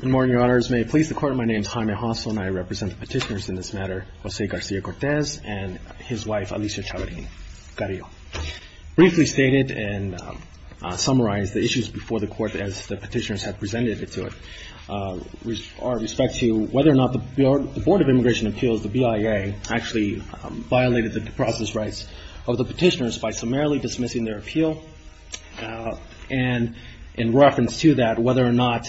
Good morning, your honors. May it please the court, my name is Jaime Hossel and I represent the petitioners in this matter, Jose Garcia-Cortez and his wife Alicia Chavarria. Briefly stated and summarized the issues before the court as the petitioners have presented it to it. Our respect to you, whether or not the Board of Immigration Appeals, the BIA actually violated the due process rights of the petitioners by summarily dismissing their appeal and in reference to that whether or not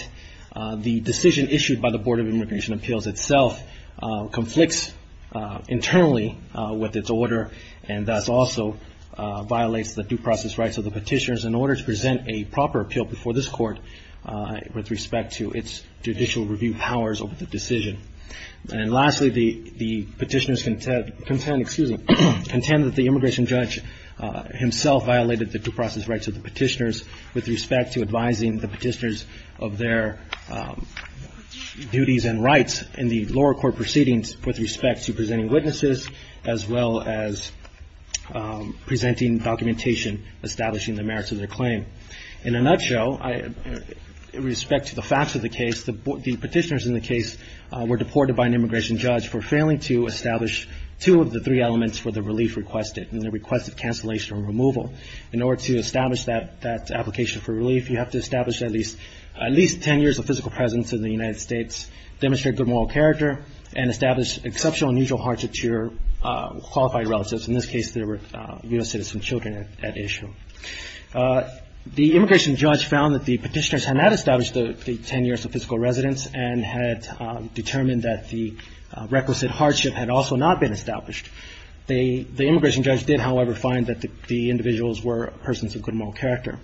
the decision issued by the Board of Immigration Appeals itself conflicts internally with its order and thus also violates the due process rights of the petitioners in order to present a proper appeal before this court with respect to its judicial review powers over the decision. And lastly, the petitioners contend that the immigration judge himself violated the due process rights of the petitioners with respect to advising the petitioners of their duties and rights in the lower court proceedings with respect to presenting witnesses as well as presenting documentation establishing the merits of their claim. In a nutshell, with respect to the facts of the case, the petitioners in the case were deported by an immigration judge for failing to establish two of the three elements for the relief requested in the request of cancellation or removal. In order to establish that application for relief, you have to establish at least ten years of physical presence in the United States, demonstrate good moral character and establish exceptional and mutual heart to your qualified relatives. In this case, they were U.S. citizen children at issue. The immigration judge found that the petitioners had not established the ten years of physical residence and had determined that the requisite hardship had also not been established. The immigration judge did, however, find that the individuals were persons of good moral character.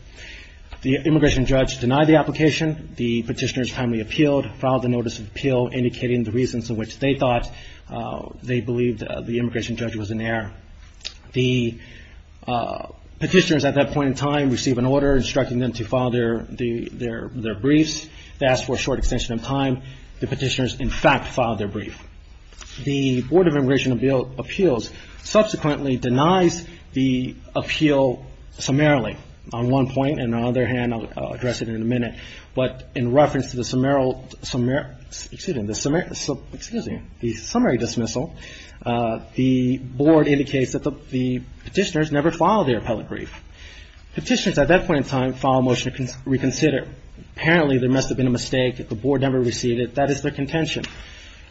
The immigration judge denied the application. The petitioners timely appealed, filed a notice of appeal indicating the reasons for which they thought they believed the immigration judge was in error. The petitioners at that point in time received an order instructing them to file their briefs. They asked for a short extension of time. The petitioners, in fact, filed their brief. The Board of Immigration Appeals subsequently denies the appeal summarily on one point and on the other hand, I'll address it in a minute, but in reference to the summary dismissal, the Board indicates that the petitioners never filed their appellate brief. Petitioners at that point in time filed a motion to reconsider. Apparently, there must have been a mistake. The Board never received it. That is their contention.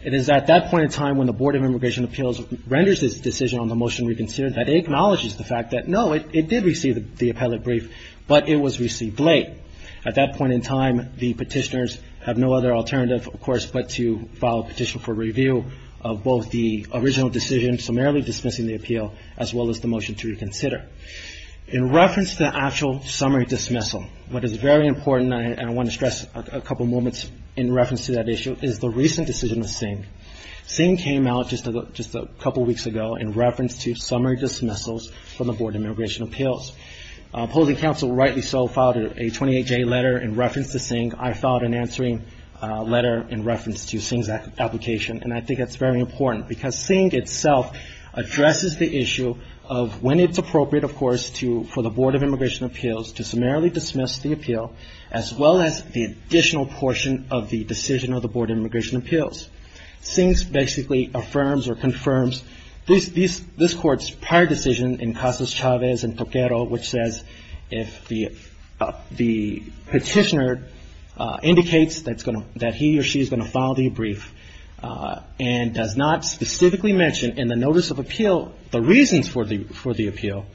It is at that point in time when the Board of Immigration Appeals renders its decision on the motion reconsidered that acknowledges the fact that, no, it did receive the appellate brief, but it was received late. At that point in time, the petitioners have no other alternative, of course, but to file a petition for review of both the original decision summarily dismissing the appeal as well as the motion to reconsider. In reference to the actual summary dismissal, what is very important, and I want to stress a couple moments in reference to that issue, is the recent decision of Singh. Singh came out just a couple weeks ago in reference to summary dismissals from the Board of Immigration Appeals. Opposing counsel, rightly so, filed a 28-J letter in reference to Singh. I filed an answering letter in reference to Singh's application, and I think that's very important because Singh itself addresses the issue of when it's appropriate, of course, for the Board of Immigration Appeals to summarily dismiss the appeal as well as the additional portion of the decision of the Board of Immigration Appeals. Singh basically affirms or confirms this Court's prior decision in Casas-Chavez and Torquero, which says if the petitioner indicates that he or she is going to file the brief and does not specifically mention in the notice of appeal the reasons for the appeal,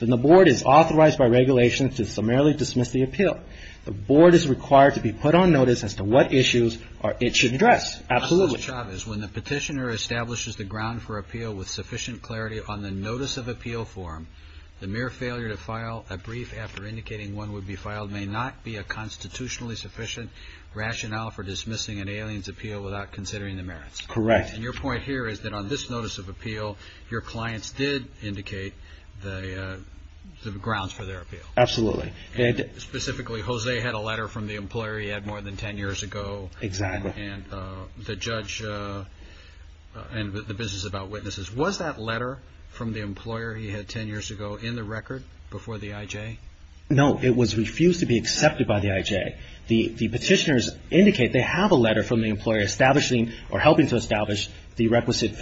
then the Board is authorized by regulation to summarily dismiss the appeal. The Board is required to be put on notice as to what issues it should address. Absolutely. So, Casas-Chavez, when the petitioner establishes the ground for appeal with sufficient clarity on the notice of appeal form, the mere failure to file a brief after indicating one would be filed may not be a constitutionally sufficient rationale for dismissing an alien's appeal without considering the merits. Correct. And your point here is that on this notice of appeal, your clients did indicate the grounds for their appeal. Absolutely. And specifically, Jose had a letter from the employer he had more than ten years ago. Exactly. And the judge and the business about witnesses, was that letter from the employer he had ten years ago in the record before the IJ? No, it was refused to be accepted by the IJ. The petitioners indicate they have a letter from the employer establishing or helping to establish the requisite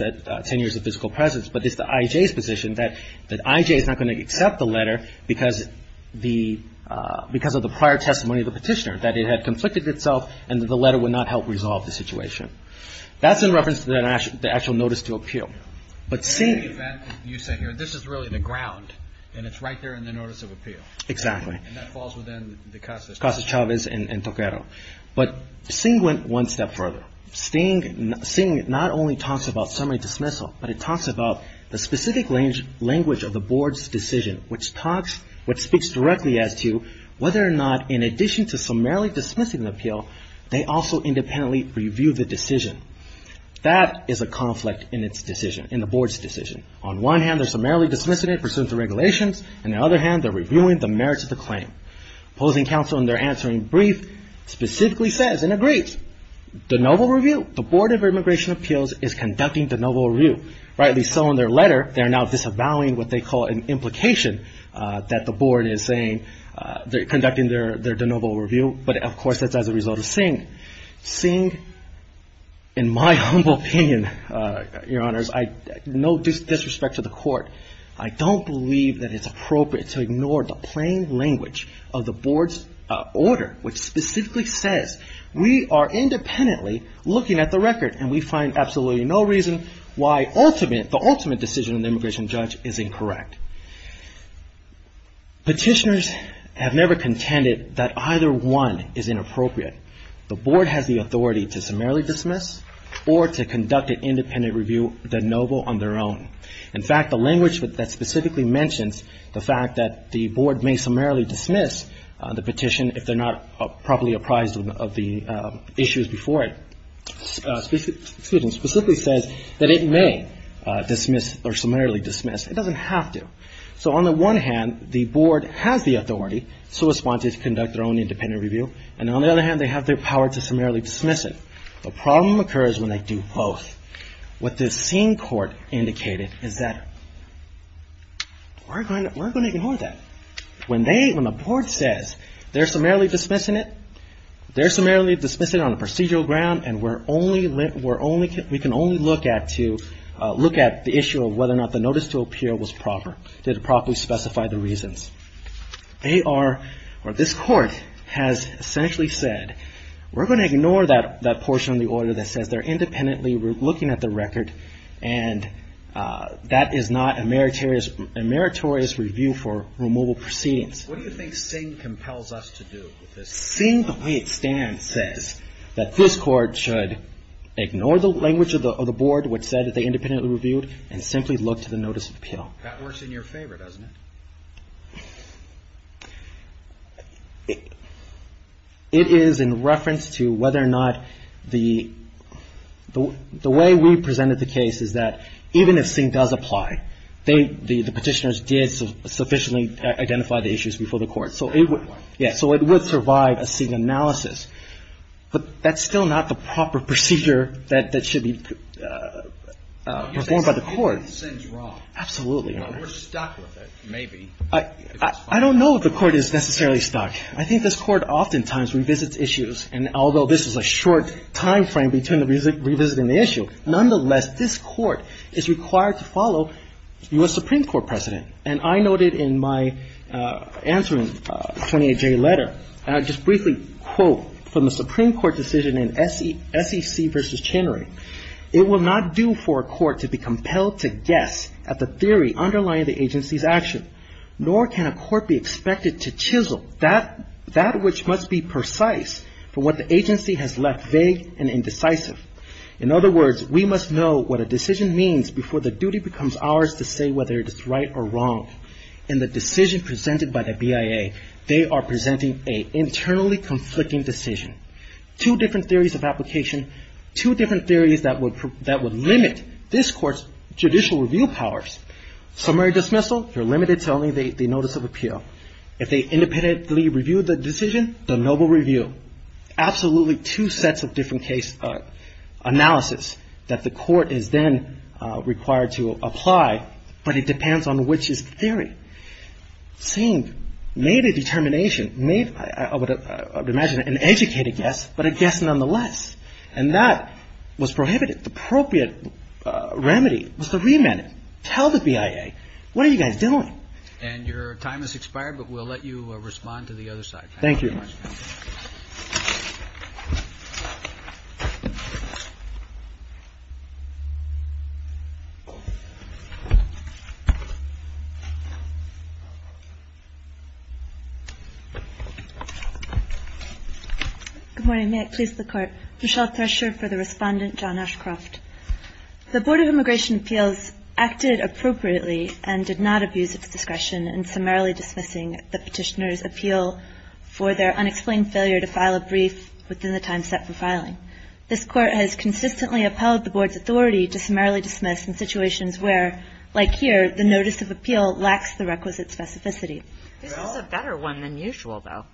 ten years of physical presence, but it's the IJ's position that the IJ is not going to accept the letter because of the prior testimony of the petitioner, that it had conflicted itself and the letter would not help resolve the situation. That's in reference to the actual notice to appeal. But seeing that you say here, this is really the ground and it's right there in the notice of appeal. And that falls within the Casas-Chavez. Casas-Chavez and Toquero. But Singh went one step further. Singh not only talks about summary dismissal, but he talks about the specific language of the board's decision, which speaks directly as to whether or not in addition to summarily dismissing the appeal, they also independently review the decision. That is a conflict in the board's decision. On one hand they're summarily dismissing it pursuant to regulations, and on the other hand they're reviewing the merits of the claim. Opposing counsel in their answering brief specifically says and agrees, the noble review, the Board of Immigration Appeals is conducting the noble review. Rightly so in their letter, they're now disavowing what they call an implication that the board is saying, they're conducting their noble review, but of course that's as a result of Singh. Singh, in my humble opinion, your honors, no disrespect to the court, I don't believe that it's appropriate to ignore the plain language of the board's order, which specifically says we are independently looking at the record, and we find absolutely no reason why the ultimate decision of the immigration judge is incorrect. Petitioners have never contended that either one is inappropriate. The board has the authority to summarily dismiss or to conduct an independent review, the noble on their own. In fact, the language that specifically mentions the fact that the board may summarily dismiss the petition if they're not properly apprised of the issues before it, specifically says that it may dismiss or summarily dismiss. It doesn't have to. So on the one hand, the board has the authority, so it's wanted to conduct their own independent review, and on the other hand, they have the power to summarily dismiss it. The problem occurs when they do both. What this Singh court indicated is that we're going to ignore that. When the board says they're summarily dismissing it, they're summarily dismissing it on a procedural ground, and we can only look at the issue of whether or not the notice to appear was proper. Did it properly specify the reasons? This court has essentially said, we're going to ignore that portion of the order that says they're independently looking at the record, and that is not a meritorious review for the removal proceedings. What do you think Singh compels us to do with this? Singh, the way it stands, says that this court should ignore the language of the board which said that they independently reviewed, and simply look to the notice of appeal. That works in your favor, doesn't it? It is in reference to whether or not the way we presented the case is that even if Singh does apply, the Petitioners did sufficiently identify the issues before the court. So it would survive a Singh analysis. But that's still not the proper procedure that should be performed by the court. But we're stuck with it, maybe. I don't know if the court is necessarily stuck. I think this court oftentimes revisits issues, and although this is a short time frame between revisiting the issue, nonetheless, this court is required to follow U.S. Supreme Court precedent. And I noted in my answering 28-J letter, and I'll just briefly quote from the Supreme Court decision in SEC v. Chenery, It will not do for a court to be compelled to guess at the theory underlying the agency's action, nor can a court be expected to chisel that which must be precise from what the agency has left vague and indecisive. In other words, we must know what a decision means before the duty becomes ours to say whether it is right or wrong. In the decision presented by the BIA, they are presenting an internally conflicting decision. Two different theories of application, two different theories that would limit this court's judicial review powers. Summary dismissal, you're limited to only the notice of appeal. If they independently review the decision, the noble review. Absolutely two sets of different case analysis that the court is then required to apply, but it depends on which is the theory. Same, made a determination, made, I would imagine, an educated guess, but a guess nonetheless. And that was prohibited. The appropriate remedy was to remand it. Tell the BIA, what are you guys doing? And your time has expired, but we'll let you respond to the other side. Thank you. Good morning, may it please the court. Michelle Thresher for the respondent, John Ashcroft. The Board of Immigration Appeals acted appropriately and did not abuse its discretion in summarily dismissing the petitioner's appeal for their unexplained failure to file a brief within the time set for filing. This court has consistently upheld the Board's authority to summarily dismiss in situations where, like here, the notice of appeal lacks the requisite specificity. This is a better one than usual, though.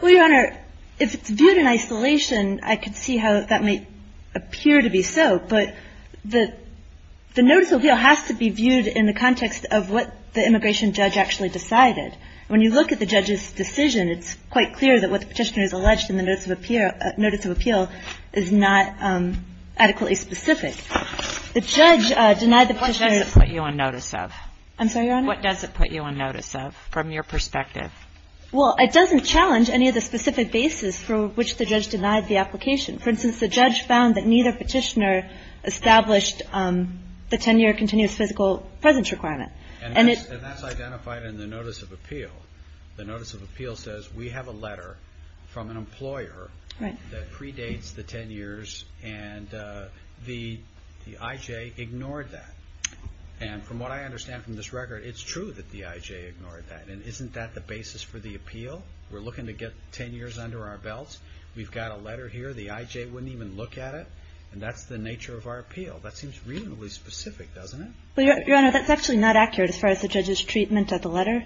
Well, Your Honor, if it's viewed in isolation, I could see how that might appear to be so, but the notice of appeal has to be viewed in the context of what the immigration judge actually decided. When you look at the judge's decision, it's quite clear that what the petitioner has alleged in the notice of appeal is not adequately specific. The judge denied the petitioner to What does it put you on notice of? I'm sorry, Your Honor? What does it put you on notice of, from your perspective? Well, it doesn't challenge any of the specific basis for which the judge denied the application. For instance, the judge found that neither petitioner established the 10-year continuous physical presence requirement. And that's identified in the notice of appeal. The notice of appeal says we have a letter from an employer that predates the 10 years, and the I.J. ignored that. And from what I understand from this record, it's true that the I.J. ignored that. And isn't that the basis for the appeal? We're looking to get 10 years under our belts. We've got a letter here. The I.J. wouldn't even look at it. And that's the nature of our appeal. That seems reasonably specific, doesn't it? Well, Your Honor, that's actually not accurate as far as the judge's treatment of the letter.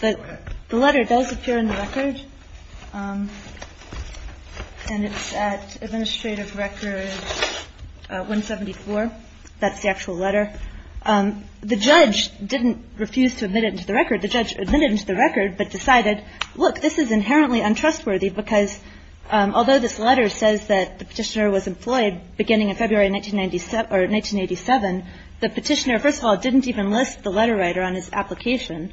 Go ahead. The letter does appear in the record, and it's at Administrative Record 174. That's the actual letter. The judge didn't refuse to admit it into the record. The judge admitted it into the record but decided, look, this is inherently untrustworthy because although this letter says that the petitioner was employed beginning in February 1987, the petitioner, first of all, didn't even list the letter writer on his application.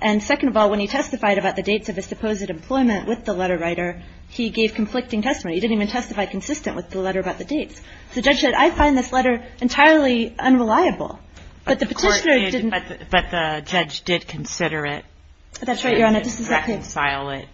And second of all, when he testified about the dates of his supposed employment with the letter writer, he gave conflicting testimony. He didn't even testify consistent with the letter about the dates. The judge said, I find this letter entirely unreliable. But the petitioner didn't. But the judge did consider it. That's right, Your Honor. He didn't reconcile it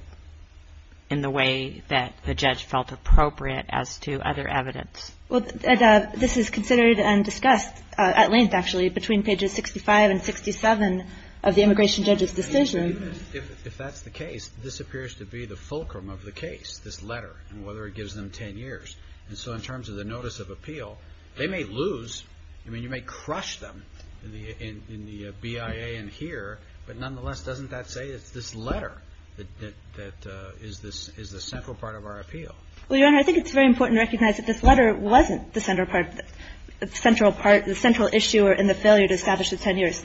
in the way that the judge felt appropriate as to other evidence. Well, this is considered and discussed at length, actually, between pages 65 and 67 of the immigration judge's decision. If that's the case, this appears to be the fulcrum of the case, this letter, and whether it gives them 10 years. And so in terms of the notice of appeal, they may lose. I mean, you may crush them in the BIA and here, but nonetheless, doesn't that say it's this letter that is the central part of our appeal? Well, Your Honor, I think it's very important to recognize that this letter wasn't the central part, the central issue in the failure to establish the 10 years.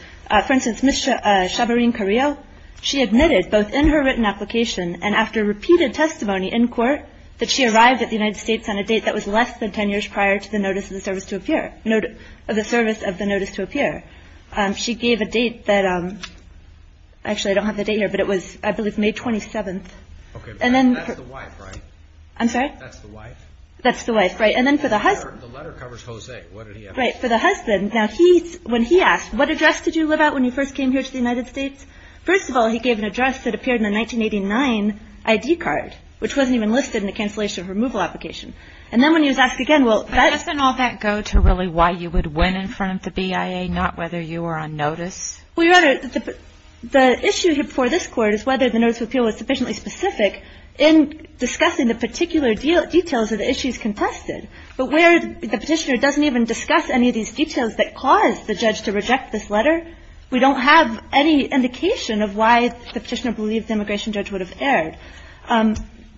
For instance, Ms. Chabrine Carrillo, she admitted both in her written application and after repeated testimony in court that she arrived at the United States on a date that was less than 10 years prior to the notice of the service to appear. She gave a date that, actually, I don't have the date here, but it was, I believe, May 27th. Okay, but that's the wife, right? I'm sorry? That's the wife? That's the wife, right. The letter covers Jose. What did he have to say? Right. For the husband, when he asked, what address did you live at when you first came here to the United States? First of all, he gave an address that appeared in the 1989 ID card, which wasn't even listed in the cancellation of removal application. And then when he was asked again, Doesn't all that go to really why you would win in front of the BIA, not whether you were on notice? Well, Your Honor, the issue here before this Court is whether the notice of appeal was sufficiently specific in discussing the particular details of the issues contested. But where the petitioner doesn't even discuss any of these details that caused the judge to reject this letter, we don't have any indication of why the petitioner believed the immigration judge would have erred.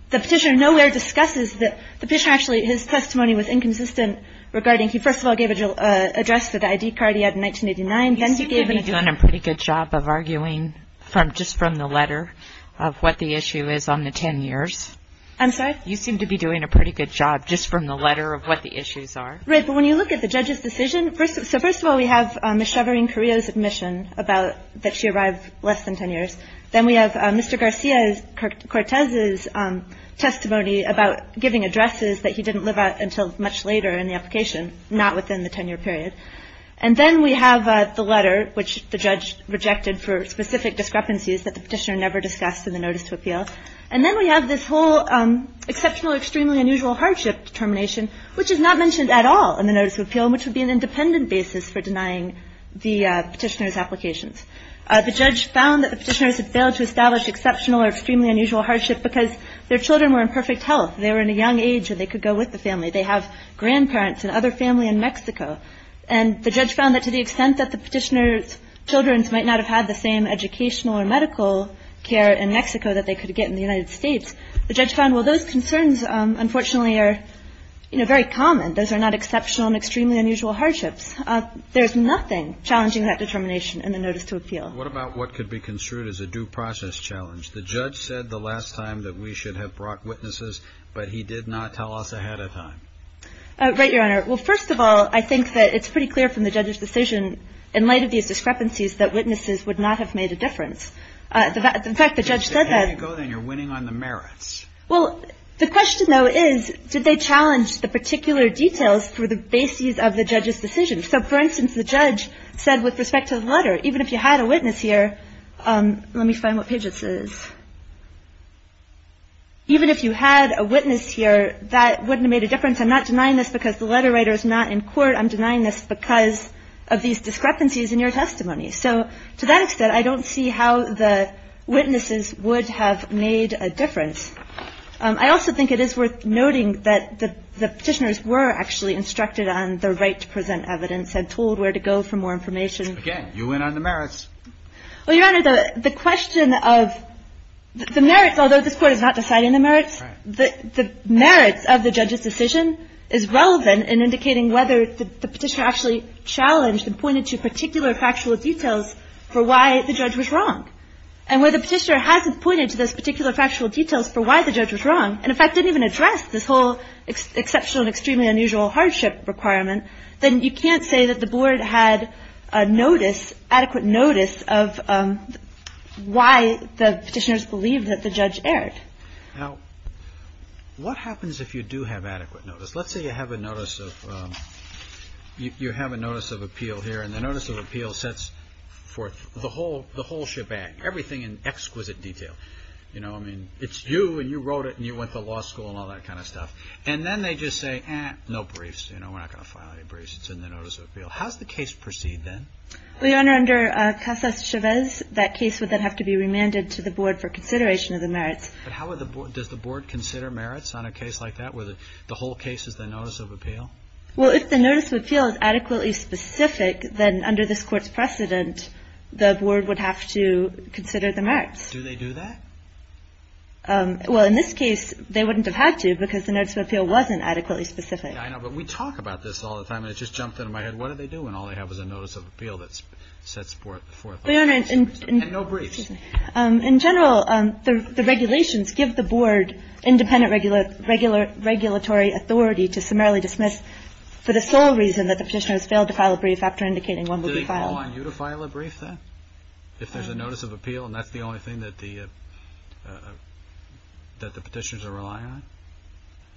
The petitioner nowhere discusses that, so his testimony was inconsistent regarding he first of all gave an address to the ID card he had in 1989. You seem to be doing a pretty good job of arguing just from the letter of what the issue is on the 10 years. I'm sorry? You seem to be doing a pretty good job just from the letter of what the issues are. Right. But when you look at the judge's decision, so first of all, we have Ms. Sheverine Carrillo's admission that she arrived less than 10 years. Then we have Mr. Garcia Cortez's testimony about giving addresses that he didn't live at until much later in the application, not within the 10 year period. And then we have the letter which the judge rejected for specific discrepancies that the petitioner never discussed in the notice of appeal. And then we have this whole exceptional or extremely unusual hardship determination which is not mentioned at all in the notice of appeal which would be an independent basis for denying the petitioner's applications. The judge found that the petitioners had failed to establish exceptional or extremely unusual hardship because their children were in perfect health. They were in a young age and they could go with the family. They have grandparents and other family in Mexico. And the judge found that to the extent that the petitioner's children might not have had the same educational or medical care in Mexico that they could get in the United States, the judge found, well, those concerns unfortunately are very common. Those are not exceptional and extremely unusual hardships. There's nothing challenging that determination in the notice to appeal. What about what could be construed as a due process challenge? The judge said the last time that we should have brought witnesses but he did not tell us ahead of time. Right, Your Honor. Well, first of all, I think that it's pretty clear from the judge's decision in light of these discrepancies that witnesses would not have made a difference. In fact, the judge said that Then you're winning on the merits. Well, the question though is did they challenge the particular details for the basis of the judge's decision? So, for instance, the judge said with respect to the letter even if you had a witness here Let me find what page this is. Even if you had a witness here that wouldn't have made a difference. I'm not denying this because the letter writer is not in court. I'm denying this because of these discrepancies in your testimony. So, to that extent, I don't see how the witnesses would have made a difference. I also think it is worth noting that the petitioners were actually instructed on their right to present evidence and told where to go for more information. Again, you win on the merits. Well, Your Honor, the question of the merits, although this court is not deciding the merits the merits of the judge's decision is relevant in indicating whether the petitioner actually challenged and pointed to particular factual details for why the judge was wrong. And where the petitioner hasn't pointed to those particular factual details for why the judge was wrong and, in fact, didn't even address this whole exceptional and extremely unusual hardship requirement then you can't say that the board had a notice, adequate notice of why the petitioners believed that the judge erred. Now, what happens if you do have adequate notice? Let's say you have a notice of you have a notice of appeal here and the notice of appeal sets forth the whole shebang, everything in exquisite detail. You know, I mean, it's you and you wrote it and you went to law school and all that kind of stuff. And then they just say eh, no briefs, you know, we're not going to file any briefs in the notice of appeal. How does the case proceed then? Well, Your Honor, under Casas Chavez that case would then have to be remanded to the board for consideration of the merits. But how would the board, does the board consider merits on a case like that where the whole case is the notice of appeal? Well, if the notice of appeal is adequately specific then under this court's precedent the board would have to consider the merits. Do they do that? Well, in this case they wouldn't have had to because the notice of appeal wasn't adequately specific. Yeah, I know, but we talk about this all the time and it just jumped into my head. What do they do when all they have is a notice of appeal that sets forth the whole case? And no briefs. In general the regulations give the board independent regulatory authority to summarily dismiss for the sole reason that the petitioner has failed to file a brief after indicating one will be filed. Do they call on you to file a brief then? If there's a notice of appeal and that's the only thing that the petitioners are relying on?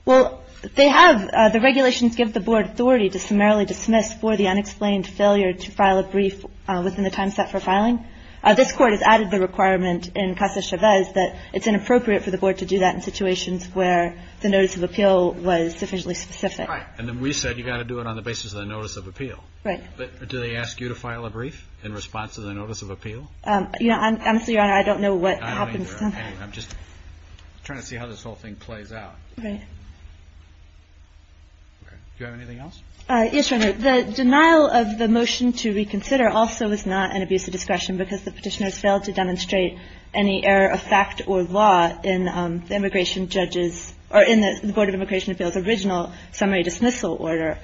Well, they have. The regulations give the board authority to summarily dismiss for the unexplained failure to file a brief within the time set for filing. This court has added the requirement in Casa Chavez that it's inappropriate for the board to do that in situations where the notice of appeal was sufficiently specific. And then we said you've got to do it on the basis of the notice of appeal. Right. Do they ask you to file a brief in response to the notice of appeal? Honestly, Your Honor, I don't know what happens. I'm just trying to see how this whole thing plays out. Do you have anything else? Yes, Your Honor. The denial of the motion to reconsider also is not an abuse of discretion because the petitioners failed to demonstrate any error of fact or law in the immigration judge's or in the Board of Immigration Appeals original summary dismissal order.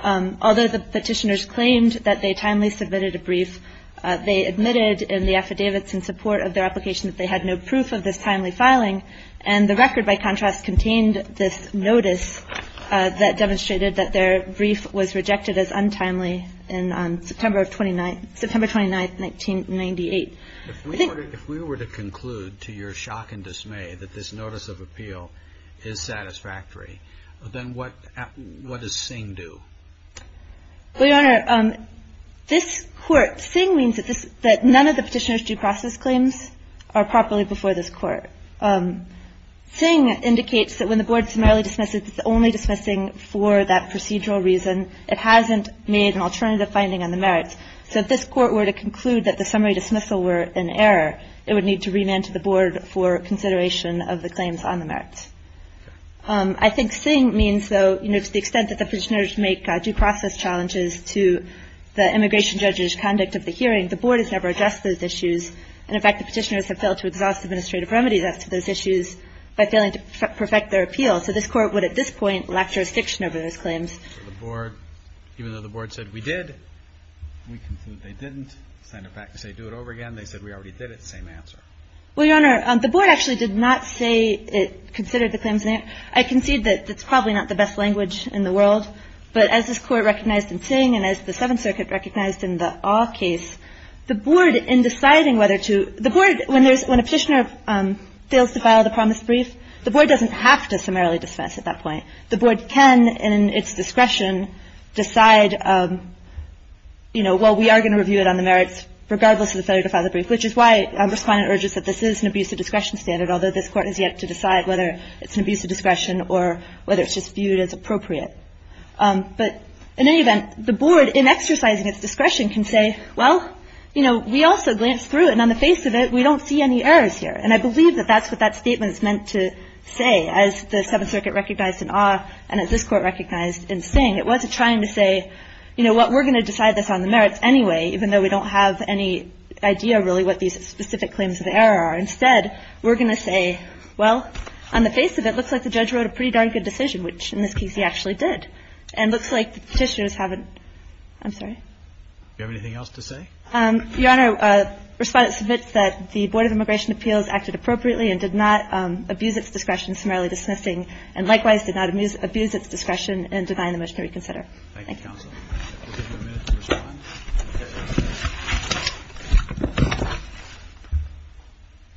Although the petitioners claimed that they timely submitted a brief, they admitted in the affidavits in support of their application that they had no proof of this timely filing, and the record by contrast contained this notice that demonstrated that their brief was rejected as untimely on September 29, 1998. If we were to conclude to your shock and dismay that this notice of appeal is satisfactory, then what does Singh do? Well, Your Honor, this court, Singh means that none of the petitioners' due process claims are properly before this court. Singh indicates that when the board summarily dismisses, it's only dismissing for that procedural reason. It hasn't made an alternative finding on the merits. So if this court were to conclude that the summary dismissal were in error, it would need to remand to the board for consideration of the claims on the merits. I think Singh means, though, to the extent that the petitioners make due process challenges to the immigration judge's conduct of the hearing, the board has never addressed those issues. And in fact, the petitioners have failed to exhaust administrative remedies by failing to perfect their appeal. So this court would, at this point, lack jurisdiction over those claims. Even though the board said we did, we conclude they didn't. Send it back to say do it over again. They said we already did it. Same answer. Well, Your Honor, the board actually did not say it considered the claims in error. I concede that that's probably not the best language in the world. But as this court recognized in Singh and as the Seventh Circuit recognized in the Ah case, the board in deciding whether to, the board, when a petitioner fails to file the promise brief, the board doesn't have to summarily dismiss at that point. The board can, in its discretion, decide well, we are going to review it on the merits regardless of the failure to file the brief, which is why I'm just calling it urgent that this is an abuse of discretion standard, although this court has yet to decide whether it's an abuse of discretion or whether it's just viewed as appropriate. But in any event, the board, in exercising its discretion, can say, well, you know, we also glanced through it and on the face of it, we don't see any errors here. And I believe that that's what that statement's meant to say, as the Seventh Circuit recognized in Ah and as this court recognized in Singh. It wasn't trying to say, you know what, we're going to decide this on the merits anyway, even though we don't have any idea really what these specific claims of error are. Instead, we're going to say, well, on the face of it, it looks like the judge wrote a pretty darn good decision, which in this case he actually did. And it looks like the Petitioners haven't I'm sorry. Do you have anything else to say? Your Honor, Respondent submits that the Board of Immigration Appeals acted appropriately and did not abuse its discretion, summarily dismissing and likewise did not abuse its discretion in denying the motion to reconsider. Thank you, Counsel. We'll give you a minute to respond.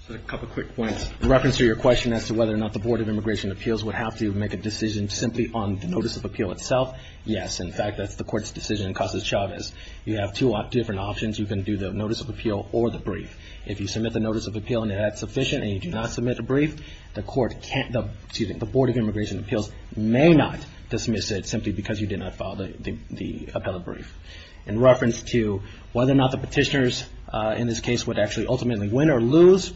Just a couple quick points. In reference to your question as to whether or not the Board of Immigration Appeals would have to make a decision simply on the Notice of Appeal itself, yes. In fact, that's the Court's decision in Casas Chavez. You have two different options. You can do the Notice of Appeal or the brief. If you submit the Notice of Appeal and that's sufficient and you do not submit the brief, the Board of Immigration Appeals may not dismiss it simply because you did not file the appellate brief. In reference to whether or not the Petitioners in this case would actually ultimately win or lose,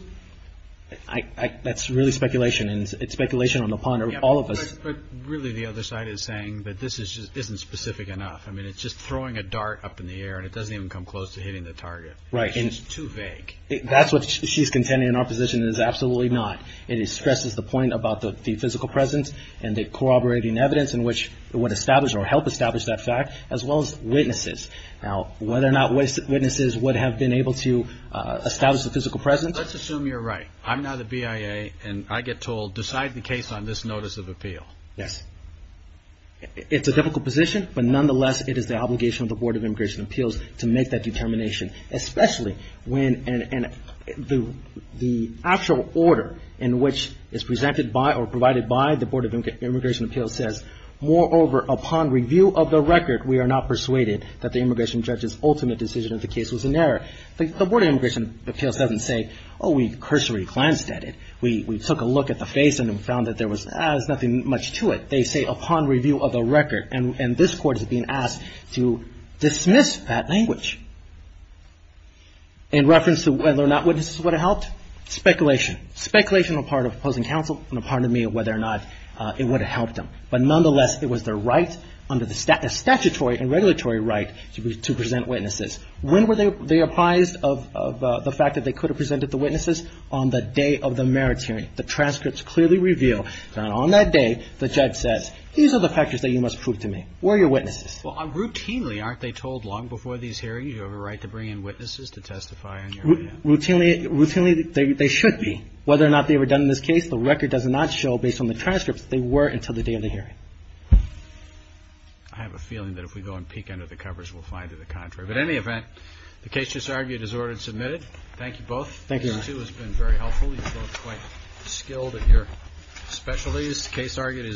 that's really speculation, and it's speculation on the part of all of us. But really, the other side is saying that this isn't specific enough. I mean, it's just throwing a dart up in the air and it doesn't even come close to hitting the target. Right. That's what she's contending in our position is absolutely not. It stresses the point about the physical presence and the corroborating evidence in which it would establish or help establish that fact, as well as witnesses. Now, whether or not witnesses would have been able to establish the physical presence? Let's assume you're right. I'm now the BIA and I get told, decide the case on this notice of appeal. Yes. It's a difficult position, but nonetheless, it is the obligation of the Board of Immigration Appeals to make that determination, especially when the actual order in which it's presented by or provided by the Board of Immigration Appeals says, moreover, upon review of the record, we are not persuaded that the immigration judge's ultimate decision of the case was an error. The Board of Immigration Appeals doesn't say, oh, we cursory glanced at it. We took a look at the face and found that there was nothing much to it. They say, upon review of the record, and this Court is being asked to dismiss that language in reference to whether or not witnesses would have helped. Speculation. Speculation on the part of opposing counsel and on the part of me on whether or not it would have helped them. But nonetheless, it was their right under the statutory and regulatory right to present witnesses. When were they apprised of the fact that they could have presented the witnesses? On the day of the merits hearing. The transcripts clearly reveal that on that day, the judge says these are the factors that you must prove to me. Were your witnesses. Well, routinely, aren't they told long before these hearings you have a right to bring in witnesses to testify on your behalf? Routinely, they should be. Whether or not they were done in this case, the record does not show, based on the transcripts, that they were until the day of the hearing. I have a feeling that if we go and peek under the covers, we'll find to the contrary. In any event, the case just argued is ordered and submitted. Thank you both. This too has been very helpful. You're both quite skilled at your specialties. The case argued is